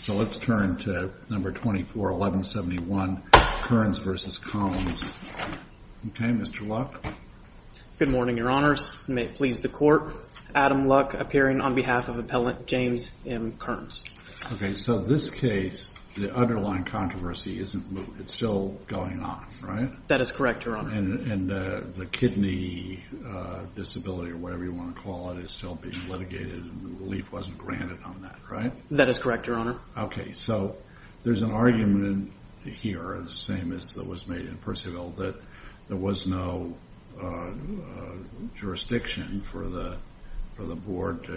So let's turn to No. 24-1171, Kernz v. Collins. Okay, Mr. Luck? Good morning, Your Honors. May it please the Court, Adam Luck appearing on behalf of Appellant James M. Kernz. Okay, so this case, the underlying controversy, it's still going on, right? That is correct, Your Honor. And the kidney disability, or whatever you want to call it, is still being litigated and relief wasn't granted on that, right? That is correct, Your Honor. Okay, so there's an argument here, the same as that was made in Percival, that there was no jurisdiction for the board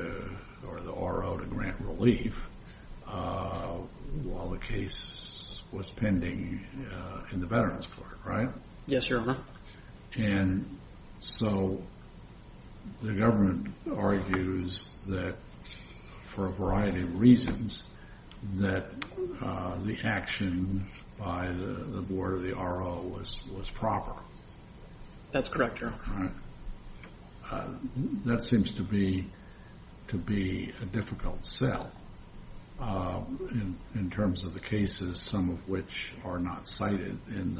or the RO to grant relief while the case was pending in the Veterans Court, right? Yes, Your Honor. And so the government argues that, for a variety of reasons, that the action by the board or the RO was proper. That's correct, Your Honor. That seems to be a difficult sell in terms of the cases, some of which are not cited in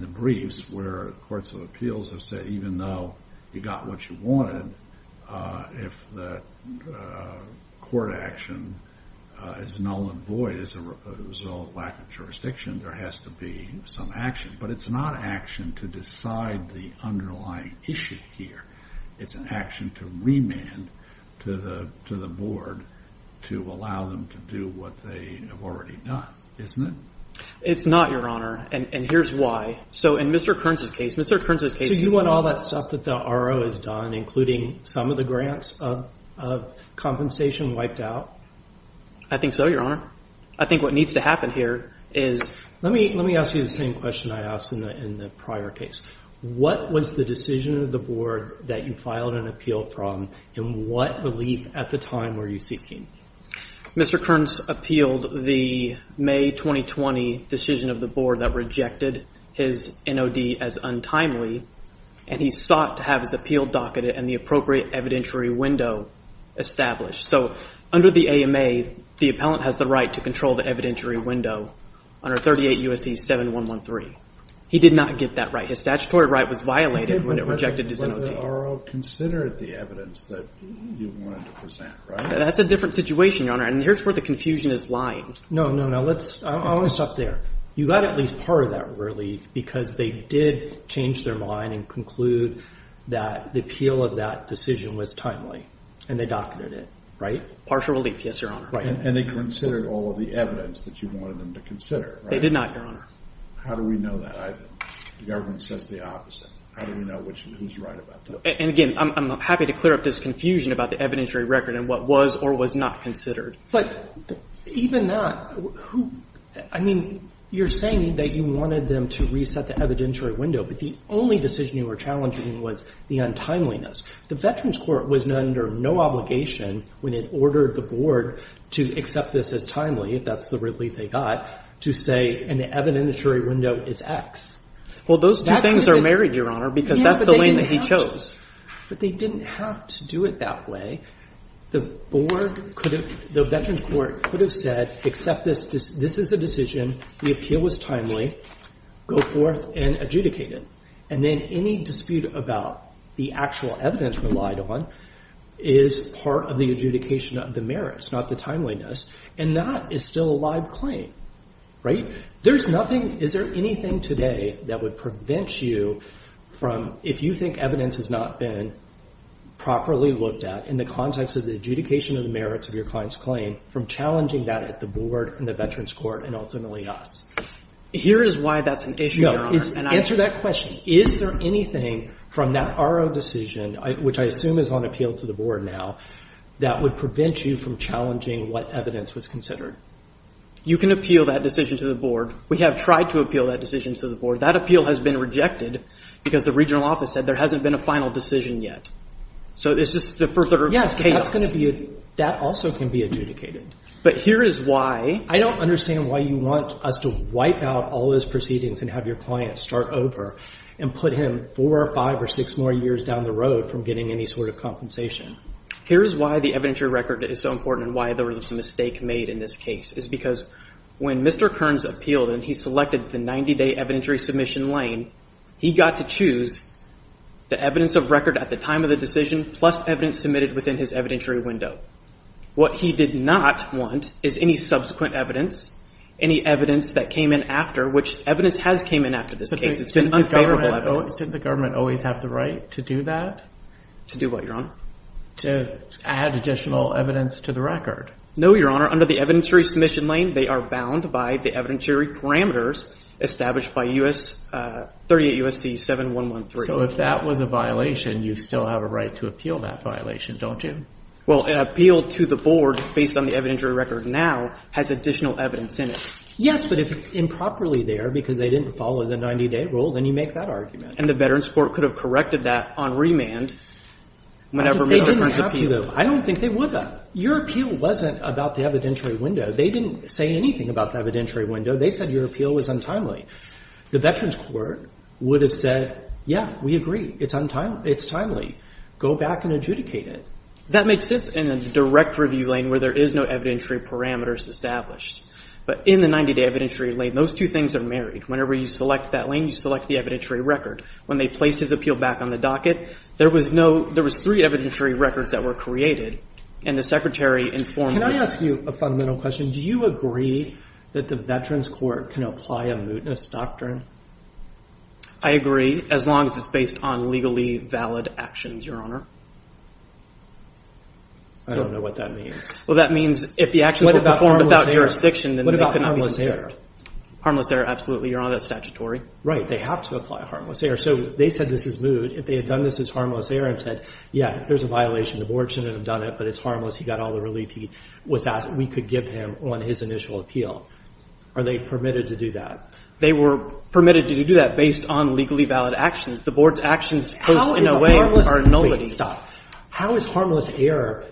the briefs, where courts of appeals have said even though you got what you wanted, if the court action is null and void as a result of lack of jurisdiction, there has to be some action. But it's not action to decide the underlying issue here. It's an action to remand to the board to allow them to do what they have already done, isn't it? It's not, Your Honor, and here's why. So in Mr. Kearns' case, Mr. Kearns' case is- So you want all that stuff that the RO has done, including some of the grants of compensation, wiped out? I think so, Your Honor. I think what needs to happen here is- Let me ask you the same question I asked in the prior case. What was the decision of the board that you filed an appeal from, and what relief at the time were you seeking? Mr. Kearns appealed the May 2020 decision of the board that rejected his NOD as untimely, and he sought to have his appeal docketed and the appropriate evidentiary window established. So under the AMA, the appellant has the right to control the evidentiary window under 38 U.S.C. 7113. He did not get that right. His statutory right was violated when it rejected his NOD. But the RO considered the evidence that you wanted to present, right? That's a different situation, Your Honor, and here's where the confusion is lying. No, no, no. I want to stop there. You got at least part of that relief because they did change their mind and conclude that the appeal of that decision was timely, and they docketed it, right? Partial relief, yes, Your Honor. And they considered all of the evidence that you wanted them to consider, right? They did not, Your Honor. How do we know that? The government says the opposite. How do we know who's right about that? And again, I'm happy to clear up this confusion about the evidentiary record and what was or was not considered. But even that, who – I mean, you're saying that you wanted them to reset the evidentiary window, but the only decision you were challenging was the untimeliness. The Veterans Court was under no obligation when it ordered the board to accept this as timely, if that's the relief they got, to say an evidentiary window is X. Well, those two things are married, Your Honor, because that's the lane that he chose. But they didn't have to do it that way. The board could have – the Veterans Court could have said, accept this. This is a decision. The appeal was timely. Go forth and adjudicate it. And then any dispute about the actual evidence relied on is part of the adjudication of the merits, not the timeliness. And that is still a live claim, right? There's nothing – is there anything today that would prevent you from – if you think evidence has not been properly looked at in the context of the adjudication of the merits of your client's claim, from challenging that at the board and the Veterans Court and ultimately us? Here is why that's an issue, Your Honor. Answer that question. Is there anything from that RO decision, which I assume is on appeal to the board now, that would prevent you from challenging what evidence was considered? You can appeal that decision to the board. We have tried to appeal that decision to the board. That appeal has been rejected because the regional office said there hasn't been a final decision yet. So it's just a further case. Yes, but that's going to be – that also can be adjudicated. But here is why. I don't understand why you want us to wipe out all those proceedings and have your client start over and put him four or five or six more years down the road from getting any sort of compensation. Here is why the evidentiary record is so important and why there was a mistake made in this case. It's because when Mr. Kearns appealed and he selected the 90-day evidentiary submission lane, he got to choose the evidence of record at the time of the decision plus evidence submitted within his evidentiary window. What he did not want is any subsequent evidence, any evidence that came in after, which evidence has came in after this case. It's been unfavorable evidence. Didn't the government always have the right to do that? To do what, Your Honor? To add additional evidence to the record. No, Your Honor. Under the evidentiary submission lane, they are bound by the evidentiary parameters established by 38 U.S.C. 7113. So if that was a violation, you still have a right to appeal that violation, don't you? Well, an appeal to the board based on the evidentiary record now has additional evidence in it. Yes, but if it's improperly there because they didn't follow the 90-day rule, then you make that argument. And the Veterans Court could have corrected that on remand whenever Miller first appealed. I don't think they would have. Your appeal wasn't about the evidentiary window. They didn't say anything about the evidentiary window. They said your appeal was untimely. The Veterans Court would have said, yeah, we agree. It's timely. Go back and adjudicate it. That makes sense in a direct review lane where there is no evidentiary parameters established. But in the 90-day evidentiary lane, those two things are married. Whenever you select that lane, you select the evidentiary record. When they placed his appeal back on the docket, there was three evidentiary records that were created, and the Secretary informed them. Can I ask you a fundamental question? Do you agree that the Veterans Court can apply a mootness doctrine? I agree, as long as it's based on legally valid actions, Your Honor. I don't know what that means. Well, that means if the actions were performed without jurisdiction, then they could not be considered. Harmless error, absolutely. Your Honor, that's statutory. They have to apply harmless error. So they said this is moot. If they had done this as harmless error and said, yeah, there's a violation. The Board shouldn't have done it, but it's harmless. He got all the relief he was asked. We could give him on his initial appeal. Are they permitted to do that? They were permitted to do that based on legally valid actions. The Board's actions posed, in a way, a nullity. How is harmless error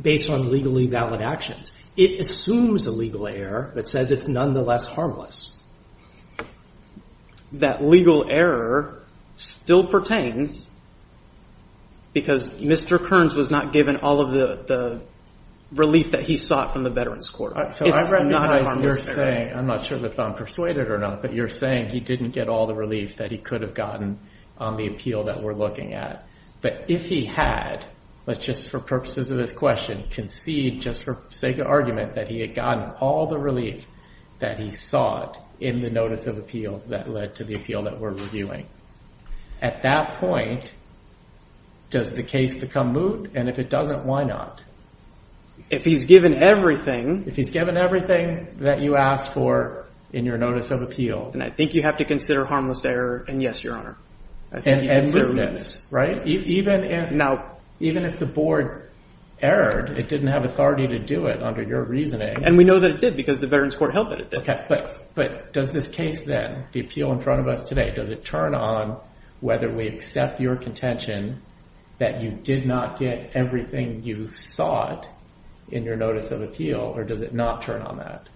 based on legally valid actions? It assumes a legal error that says it's nonetheless harmless. That legal error still pertains because Mr. Kearns was not given all of the relief that he sought from the Veterans Court. I'm not sure if I'm persuaded or not, but you're saying he didn't get all the relief that he could have gotten on the appeal that we're looking at. But if he had, let's just for purposes of this question, concede just for sake of argument that he had gotten all the relief that he sought in the notice of appeal that led to the appeal that we're reviewing. At that point, does the case become moot? And if it doesn't, why not? If he's given everything. If he's given everything that you asked for in your notice of appeal. And I think you have to consider harmless error, and yes, Your Honor. And mootness, right? Even if the Board erred, it didn't have authority to do it under your reasoning. And we know that it did because the Veterans Court held that it did. But does this case then, the appeal in front of us today, does it turn on whether we accept your contention that you did not get everything you sought in your notice of appeal, or does it not turn on that?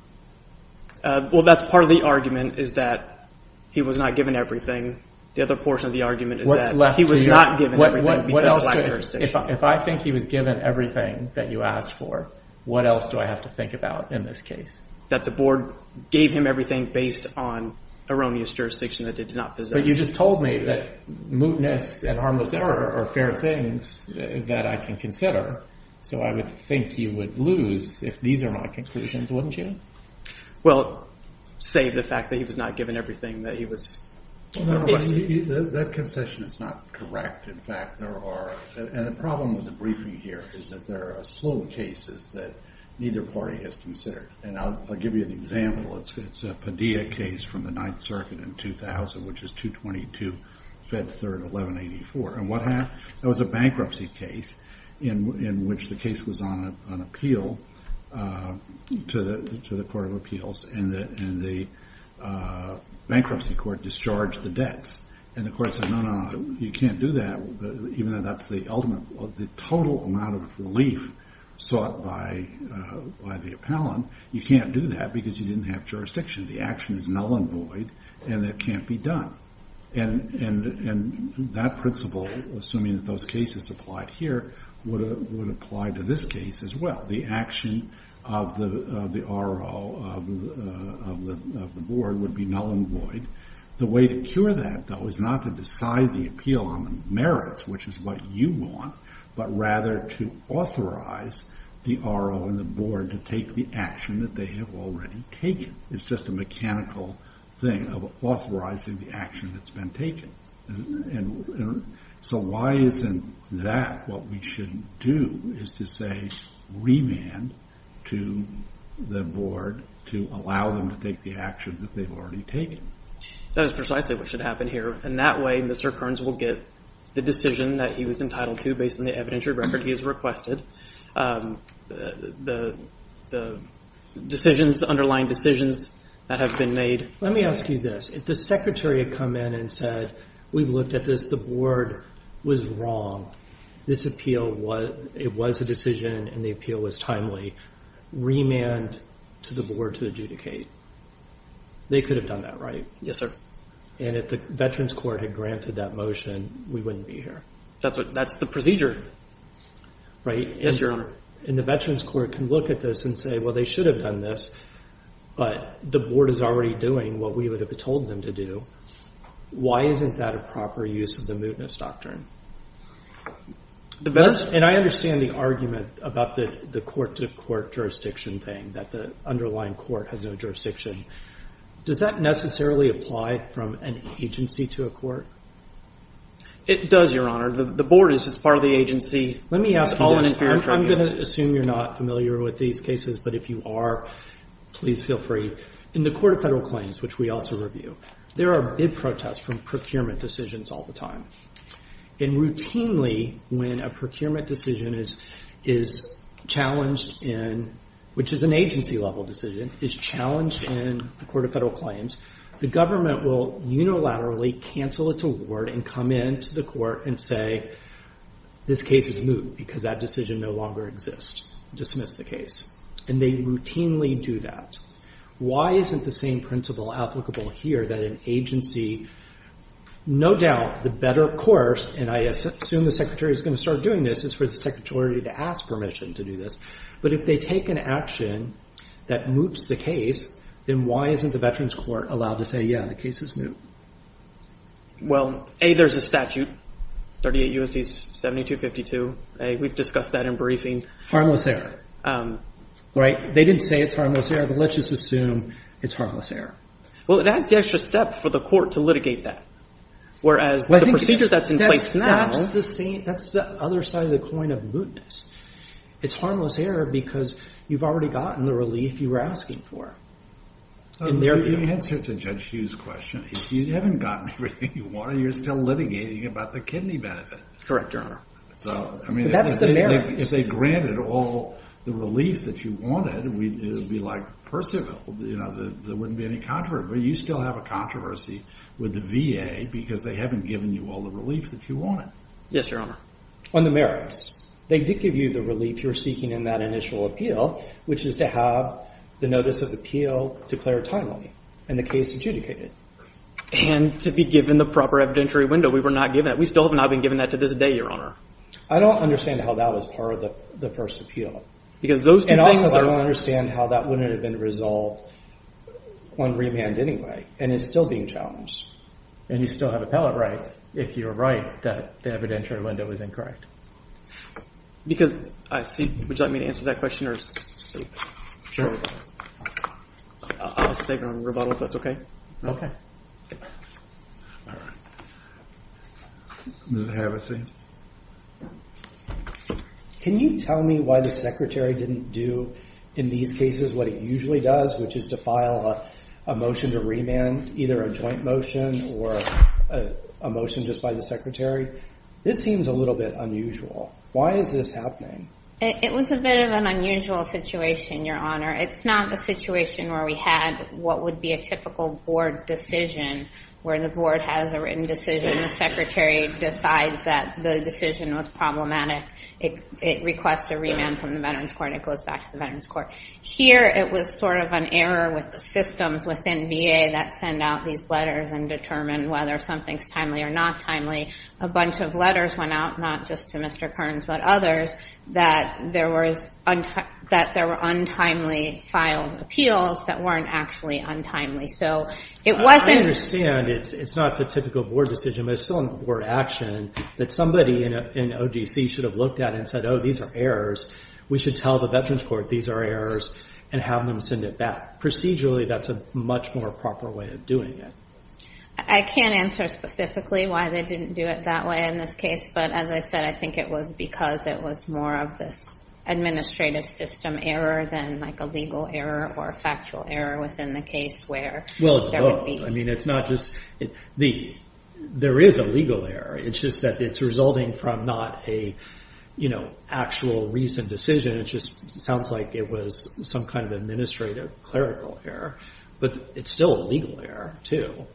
Well, that's part of the argument is that he was not given everything. The other portion of the argument is that he was not given everything because of lack of jurisdiction. If I think he was given everything that you asked for, what else do I have to think about in this case? That the Board gave him everything based on erroneous jurisdiction that it did not possess. But you just told me that mootness and harmless error are fair things that I can consider. So I would think you would lose if these are my conclusions, wouldn't you? Well, save the fact that he was not given everything that he was requested. That concession is not correct. In fact, there are – and the problem with the briefing here is that there are slow cases that neither party has considered. And I'll give you an example. It's a Padilla case from the Ninth Circuit in 2000, which is 222, Fed 3rd, 1184. And what happened? It was a bankruptcy case in which the case was on appeal to the Court of Appeals, and the bankruptcy court discharged the debts. And the court said, no, no, no, you can't do that, even though that's the ultimate – the total amount of relief sought by the appellant. You can't do that because you didn't have jurisdiction. The action is null and void, and it can't be done. And that principle, assuming that those cases applied here, would apply to this case as well. The action of the RO of the Board would be null and void. The way to cure that, though, is not to decide the appeal on the merits, which is what you want, but rather to authorize the RO and the Board to take the action that they have already taken. It's just a mechanical thing of authorizing the action that's been taken. And so why isn't that what we should do, is to say remand to the Board to allow them to take the action that they've already taken? That is precisely what should happen here. And that way, Mr. Kearns will get the decision that he was entitled to based on the evidentiary record he has requested, the decisions, the underlying decisions that have been made. Let me ask you this. If the Secretary had come in and said, we've looked at this. The Board was wrong. This appeal was a decision, and the appeal was timely. Remand to the Board to adjudicate. They could have done that, right? Yes, sir. And if the Veterans Court had granted that motion, we wouldn't be here. That's the procedure. Right? Yes, Your Honor. And the Veterans Court can look at this and say, well, they should have done this. But the Board is already doing what we would have told them to do. Why isn't that a proper use of the mootness doctrine? And I understand the argument about the court-to-court jurisdiction thing, that the underlying court has no jurisdiction. Does that necessarily apply from an agency to a court? It does, Your Honor. The Board is just part of the agency. I'm going to assume you're not familiar with these cases, but if you are, please feel free. In the Court of Federal Claims, which we also review, there are bid protests from procurement decisions all the time. And routinely, when a procurement decision is challenged in, which is an agency-level decision, is challenged in the Court of Federal Claims, the government will unilaterally cancel its award and come into the court and say, this case is moot because that decision no longer exists. Dismiss the case. And they routinely do that. Why isn't the same principle applicable here that an agency, no doubt, the better course, and I assume the Secretary is going to start doing this, is for the Secretary to ask permission to do this. But if they take an action that moots the case, then why isn't the Veterans Court allowed to say, yeah, the case is moot? Well, A, there's a statute, 38 U.S.C. 7252. We've discussed that in briefing. Harmless error. Right? They didn't say it's harmless error, but let's just assume it's harmless error. Well, it adds the extra step for the court to litigate that, whereas the procedure that's in place now. That's the other side of the coin of mootness. It's harmless error because you've already gotten the relief you were asking for. In their view. In answer to Judge Hughes' question, if you haven't gotten everything you wanted, you're still litigating about the kidney benefit. Correct, Your Honor. So, I mean, if they granted all the relief that you wanted, it would be like Percival. There wouldn't be any controversy. But you still have a controversy with the VA because they haven't given you all the relief that you wanted. Yes, Your Honor. On the merits. They did give you the relief you were seeking in that initial appeal, which is to have the notice of appeal declared timely and the case adjudicated. And to be given the proper evidentiary window. We were not given that. We still have not been given that to this day, Your Honor. I don't understand how that was part of the first appeal. And also, I don't understand how that wouldn't have been resolved on remand anyway and is still being challenged. And you still have appellate rights if you're right that the evidentiary window is incorrect. Because I see. Would you like me to answer that question or? Sure. I'll stay on rebuttal if that's okay. All right. Ms. Havasey. Can you tell me why the Secretary didn't do in these cases what he usually does, which is to file a motion to remand, either a joint motion or a motion just by the Secretary? This seems a little bit unusual. Why is this happening? It was a bit of an unusual situation, Your Honor. It's not the situation where we had what would be a typical board decision where the board has a written decision. The Secretary decides that the decision was problematic. It requests a remand from the Veterans Court. It goes back to the Veterans Court. Here it was sort of an error with the systems within VA that send out these letters and determine whether something's timely or not timely. A bunch of letters went out, not just to Mr. Kearns but others, that there were untimely filed appeals that weren't actually untimely. So it wasn't. I understand it's not the typical board decision, but it's still a board action that somebody in OGC should have looked at and said, oh, these are errors. We should tell the Veterans Court these are errors and have them send it back. Procedurally, that's a much more proper way of doing it. I can't answer specifically why they didn't do it that way in this case, but as I said, I think it was because it was more of this administrative system error than like a legal error or a factual error within the case where there would be. Well, it's both. I mean, it's not just – there is a legal error. It's just that it's resulting from not an actual recent decision. It just sounds like it was some kind of administrative clerical error, but it's still a legal error, too.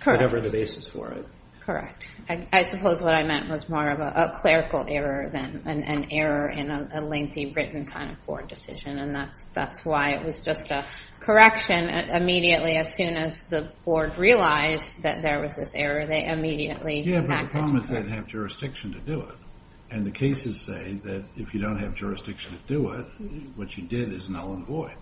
Correct. Whatever the basis for it. Correct. I suppose what I meant was more of a clerical error than an error in a lengthy written kind of board decision, and that's why it was just a correction immediately as soon as the board realized that there was this error. They immediately acted on it. Yeah, but the problem is they didn't have jurisdiction to do it, and the cases say that if you don't have jurisdiction to do it, what you did is null and void,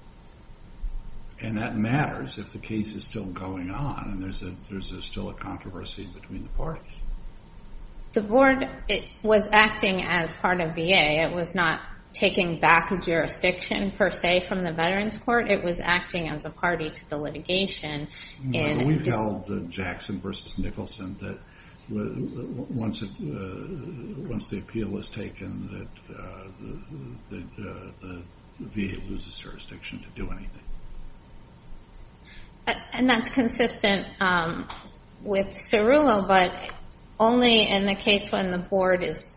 and that matters if the case is still going on and there's still a controversy between the parties. The board was acting as part of VA. It was not taking back a jurisdiction per se from the Veterans Court. It was acting as a party to the litigation. We've held Jackson v. Nicholson that once the appeal was taken that the VA loses jurisdiction to do anything. And that's consistent with Cerullo, but only in the case when the board is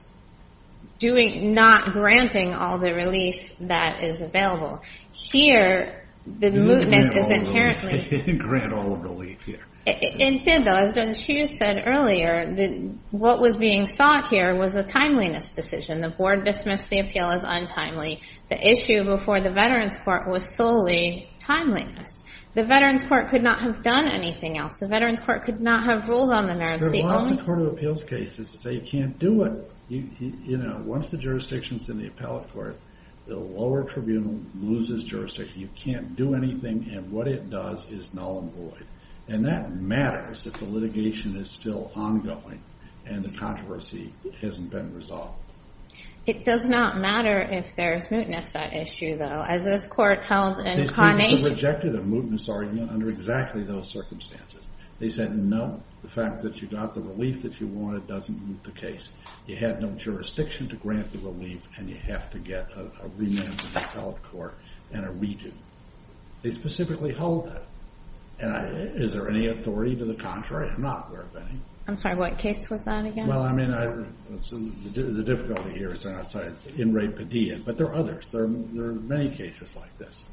not granting all the relief that is available. Here, the mootness is inherently… They didn't grant all the relief here. They did, though. As Judge Hughes said earlier, what was being sought here was a timeliness decision. The board dismissed the appeal as untimely. The issue before the Veterans Court was solely timeliness. The Veterans Court could not have done anything else. The Veterans Court could not have ruled on the merits. There are lots of court of appeals cases that say you can't do it. Once the jurisdiction is in the appellate court, the lower tribunal loses jurisdiction. You can't do anything, and what it does is null and void, and that matters if the litigation is still ongoing and the controversy hasn't been resolved. It does not matter if there's mootness at issue, though. As this court held in Conning… They rejected a mootness argument under exactly those circumstances. They said, no, the fact that you got the relief that you wanted doesn't move the case. You had no jurisdiction to grant the relief, and you have to get a remand to the appellate court and a redo. They specifically held that. Is there any authority to the contrary? I'm not aware of any. I'm sorry. What case was that again? Well, I mean, the difficulty here is I'm not sure. It's Inmate Padilla. But there are others. There are many cases like this.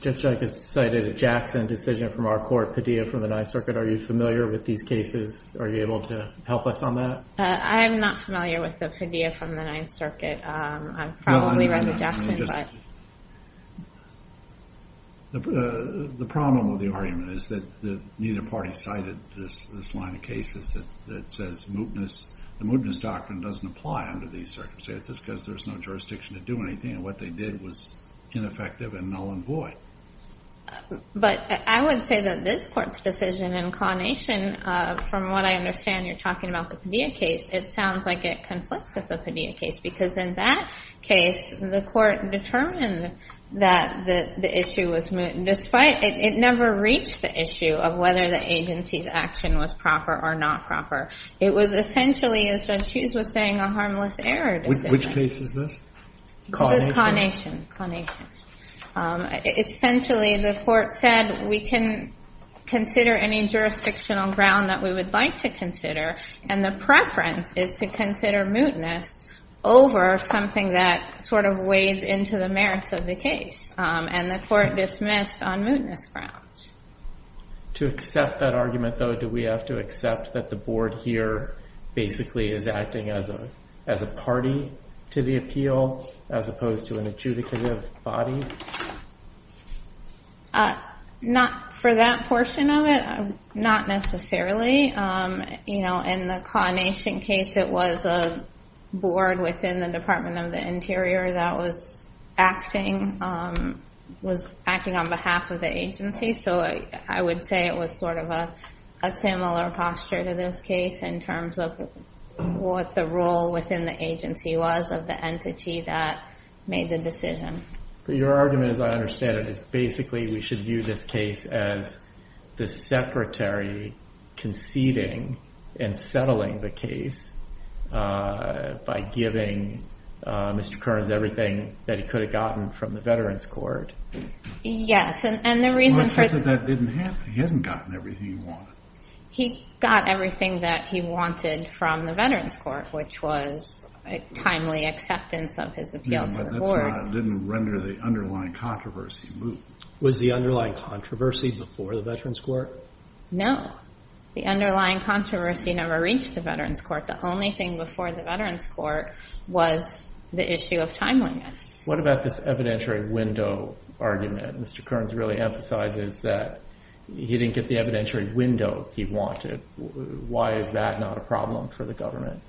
Judge Jike has cited a Jackson decision from our court, Padilla from the Ninth Circuit. Are you familiar with these cases? Are you able to help us on that? I'm not familiar with the Padilla from the Ninth Circuit. I've probably read the Jackson, but… The problem with the argument is that neither party cited this line of cases that says mootness. The mootness doctrine doesn't apply under these circumstances because there's no jurisdiction to do anything. And what they did was ineffective and null and void. But I would say that this Court's decision in Connation, from what I understand, you're talking about the Padilla case. It sounds like it conflicts with the Padilla case because in that case, the Court determined that the issue was moot. It never reached the issue of whether the agency's action was proper or not proper. It was essentially, as Judge Hughes was saying, a harmless error decision. Which case is this? This is Connation. Essentially, the Court said we can consider any jurisdictional ground that we would like to consider. And the preference is to consider mootness over something that sort of wades into the merits of the case. And the Court dismissed on mootness grounds. To accept that argument, though, do we have to accept that the Board here basically is acting as a party to the appeal, as opposed to an adjudicative body? Not for that portion of it. Not necessarily. In the Connation case, it was a Board within the Department of the Interior that was acting on behalf of the agency. So I would say it was sort of a similar posture to this case in terms of what the role within the agency was of the entity that made the decision. But your argument, as I understand it, is basically we should view this case as the Secretary conceding and settling the case by giving Mr. Kearns everything that he could have gotten from the Veterans Court. Yes, and the reason for... Well, except that that didn't happen. He hasn't gotten everything he wanted. He got everything that he wanted from the Veterans Court, which was a timely acceptance of his appeal to the Court. But that didn't render the underlying controversy moot. Was the underlying controversy before the Veterans Court? No. The underlying controversy never reached the Veterans Court. The only thing before the Veterans Court was the issue of timeliness. What about this evidentiary window argument? Mr. Kearns really emphasizes that he didn't get the evidentiary window he wanted. Why is that not a problem for the government?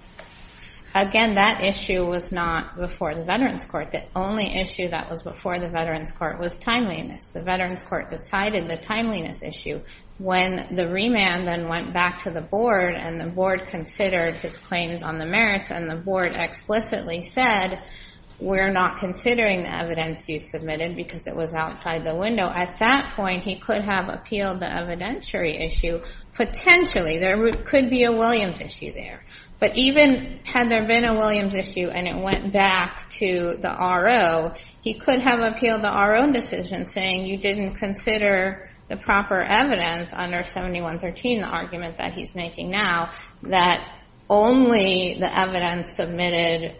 Again, that issue was not before the Veterans Court. The only issue that was before the Veterans Court was timeliness. The Veterans Court decided the timeliness issue when the remand then went back to the Board, and the Board considered his claims on the merits, and the Board explicitly said, we're not considering the evidence you submitted because it was outside the window. At that point, he could have appealed the evidentiary issue. Potentially, there could be a Williams issue there. But even had there been a Williams issue and it went back to the RO, he could have appealed the RO decision, saying you didn't consider the proper evidence under 7113, the argument that he's making now, that only the evidence submitted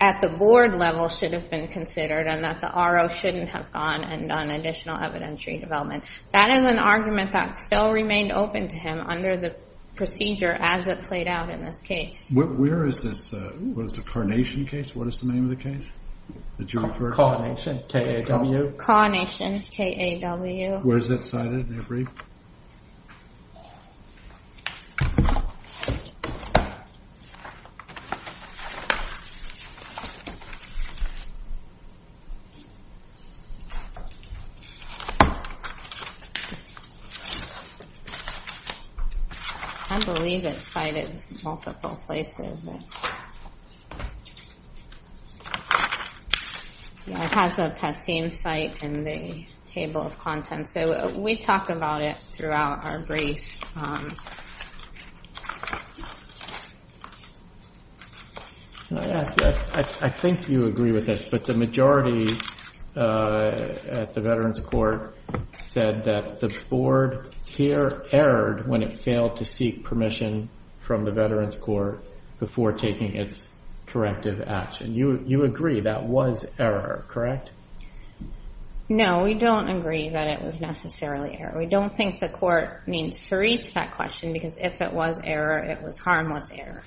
at the Board level should have been considered, and that the RO shouldn't have gone and done additional evidentiary development. That is an argument that still remained open to him under the procedure as it played out in this case. Where is this, what is the carnation case? What is the name of the case? Carnation, K-A-W. Carnation, K-A-W. Where is that cited? I believe it's cited multiple places. It has a PESCIM site in the table of contents, so we talk about it throughout our brief. I think you agree with this, but the majority at the Veterans Court said that the Board here erred when it failed to seek permission from the Veterans Court before taking its corrective action. You agree that was error, correct? No, we don't agree that it was necessarily error. We don't think the Court needs to reach that question, because if it was error, it was harmless error.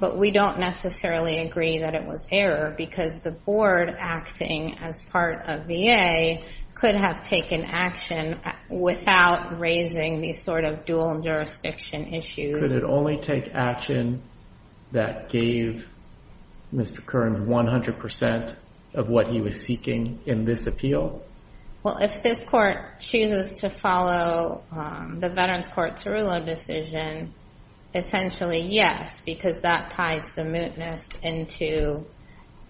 But we don't necessarily agree that it was error, because the Board acting as part of VA could have taken action without raising these sort of dual jurisdiction issues. Could it only take action that gave Mr. Kern 100% of what he was seeking in this appeal? Well, if this Court chooses to follow the Veterans Court's Tarullo decision, essentially yes, because that ties the mootness into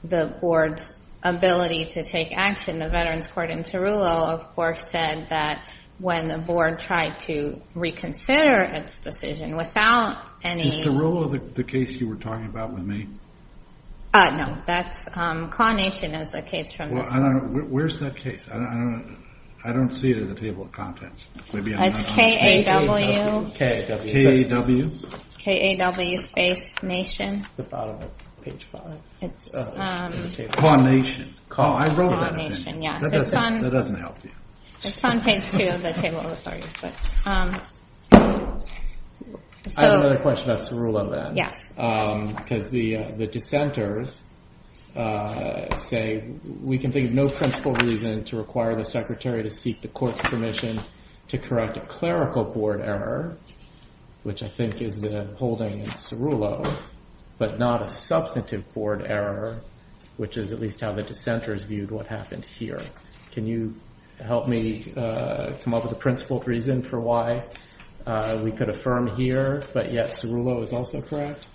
the Board's ability to take action. And the Veterans Court in Tarullo, of course, said that when the Board tried to reconsider its decision without any... Is Tarullo the case you were talking about with me? No, CAW Nation is the case. Where's that case? I don't see it in the table of contents. It's K-A-W. K-A-W? K-A-W space Nation. The bottom of page five. CAW Nation. I wrote that. CAW Nation, yes. That doesn't help you. It's on page two of the table. I have another question about Tarullo then. Yes. Because the dissenters say, we can think of no principle reason to require the Secretary to seek the Court's permission to correct a clerical Board error, which I think is the holding in Tarullo, but not a substantive Board error, which is at least how the dissenters viewed what happened here. Can you help me come up with a principled reason for why we could affirm here, but yet Tarullo is also correct?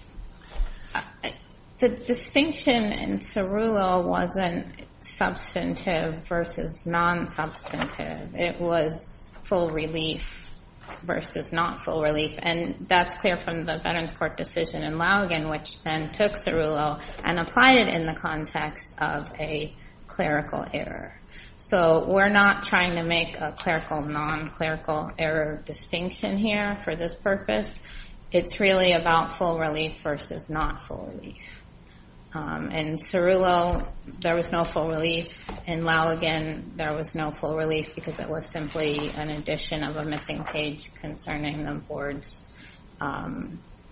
The distinction in Tarullo wasn't substantive versus non-substantive. It was full relief versus not full relief. And that's clear from the Veterans Court decision in Lougan, which then took Tarullo and applied it in the context of a clerical error. So we're not trying to make a clerical, non-clerical error distinction here for this purpose. It's really about full relief versus not full relief. In Tarullo, there was no full relief. In Lougan, there was no full relief because it was simply an addition of a missing page concerning the Board's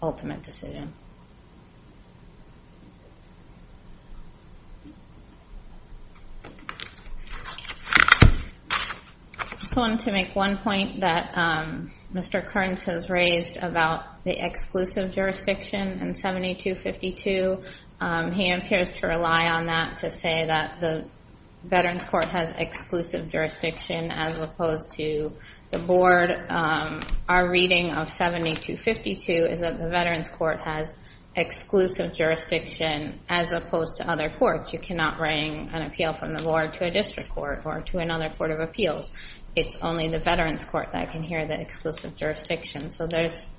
ultimate decision. I just wanted to make one point that Mr. Kearns has raised about the exclusive jurisdiction in 7252. He appears to rely on that to say that the Veterans Court has exclusive jurisdiction as opposed to the Board. Our reading of 7252 is that the Veterans Court has exclusive jurisdiction as opposed to other courts. You cannot bring an appeal from the Board to a district court or to another court of appeals. It's only the Veterans Court that can hear the exclusive jurisdiction. So there's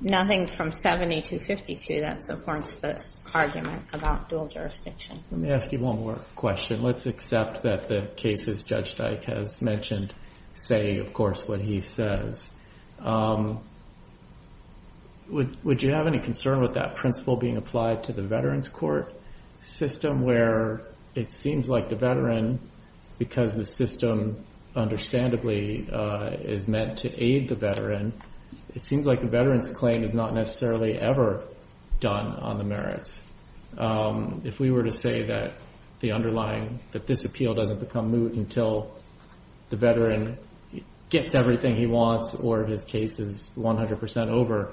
nothing from 7252 that supports this argument about dual jurisdiction. Let me ask you one more question. Let's accept that the cases Judge Dyke has mentioned say, of course, what he says. Would you have any concern with that principle being applied to the Veterans Court system where it seems like the veteran, because the system, understandably, is meant to aid the veteran, it seems like the veteran's claim is not necessarily ever done on the merits. If we were to say that the underlying, that this appeal doesn't become moot until the veteran gets everything he wants or his case is 100% over,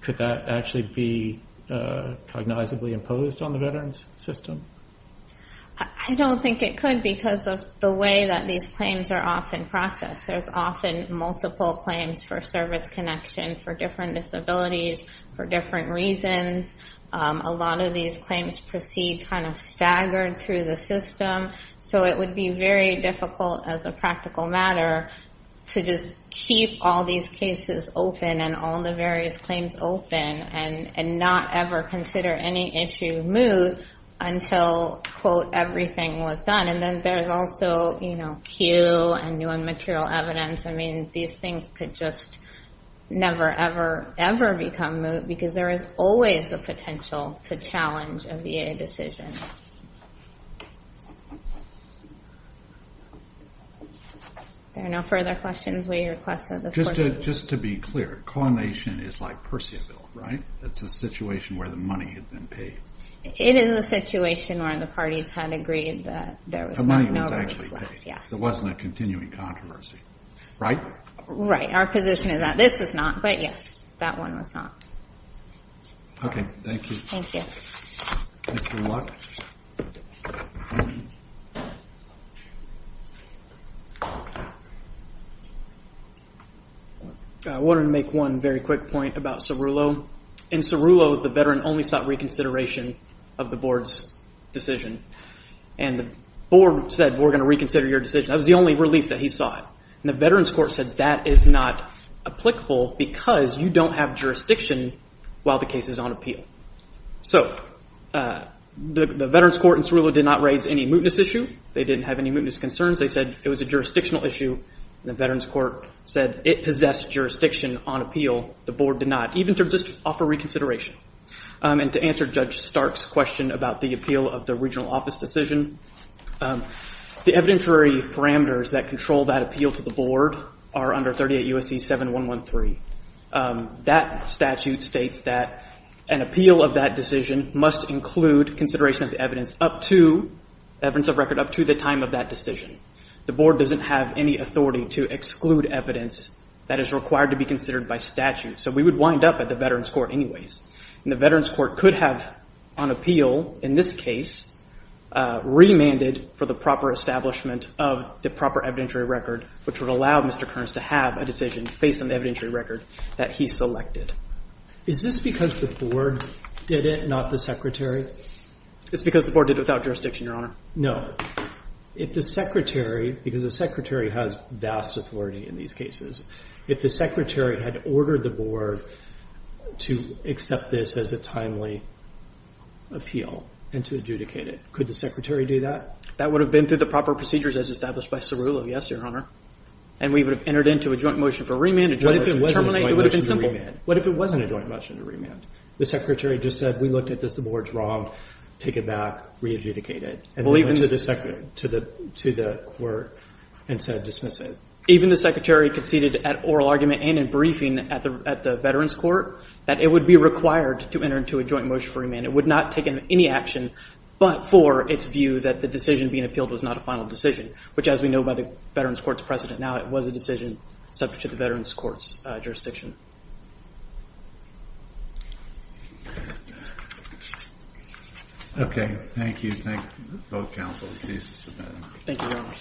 could that actually be cognizantly imposed on the veterans' system? I don't think it could because of the way that these claims are often processed. There's often multiple claims for service connection for different disabilities, for different reasons. A lot of these claims proceed kind of staggered through the system. So it would be very difficult as a practical matter to just keep all these cases open and all the various claims open and not ever consider any issue moot until, quote, everything was done. And then there's also, you know, cue and new and material evidence. I mean, these things could just never, ever, ever become moot because there is always the potential to challenge a VA decision. There are no further questions we request at this point. Just to be clear, coordination is like Percyville, right? It's a situation where the money had been paid. It is a situation where the parties had agreed that there was not notice left, yes. There wasn't a continuing controversy, right? Right. Our position is that this is not, but yes, that one was not. Okay, thank you. Thank you. Mr. Luck? I wanted to make one very quick point about Cerullo. In Cerullo, the veteran only sought reconsideration of the board's decision. And the board said, we're going to reconsider your decision. That was the only relief that he sought. And the veterans court said that is not applicable because you don't have jurisdiction while the case is on appeal. So the veterans court in Cerullo did not raise any mootness issue. They didn't have any mootness concerns. They said it was a jurisdictional issue. The veterans court said it possessed jurisdiction on appeal. The board did not, even to just offer reconsideration. And to answer Judge Stark's question about the appeal of the regional office decision, the evidentiary parameters that control that appeal to the board are under 38 U.S.C. 7113. That statute states that an appeal of that decision must include consideration of the evidence up to, evidence of record up to the time of that decision. The board doesn't have any authority to exclude evidence that is required to be considered by statute. So we would wind up at the veterans court anyways. And the veterans court could have on appeal, in this case, remanded for the proper establishment of the proper evidentiary record, which would allow Mr. Kearns to have a decision based on the evidentiary record that he selected. Is this because the board did it, not the secretary? It's because the board did it without jurisdiction, Your Honor. No. If the secretary, because the secretary has vast authority in these cases, if the secretary had ordered the board to accept this as a timely appeal and to adjudicate it, could the secretary do that? That would have been through the proper procedures as established by Cerullo, yes, Your Honor. And we would have entered into a joint motion for remand, a joint motion to terminate. What if it wasn't a joint motion to remand? What if it wasn't a joint motion to remand? The secretary just said we looked at this, the board's wrong, take it back, re-adjudicate it. And we went to the court and said dismiss it. Even the secretary conceded at oral argument and in briefing at the veterans court that it would be required to enter into a joint motion for remand. It would not take any action but for its view that the decision being appealed was not a final decision, which as we know by the veterans court's precedent now, it was a decision subject to the veterans court's jurisdiction. Okay, thank you. Thank both counsel. Thank you, Your Honor.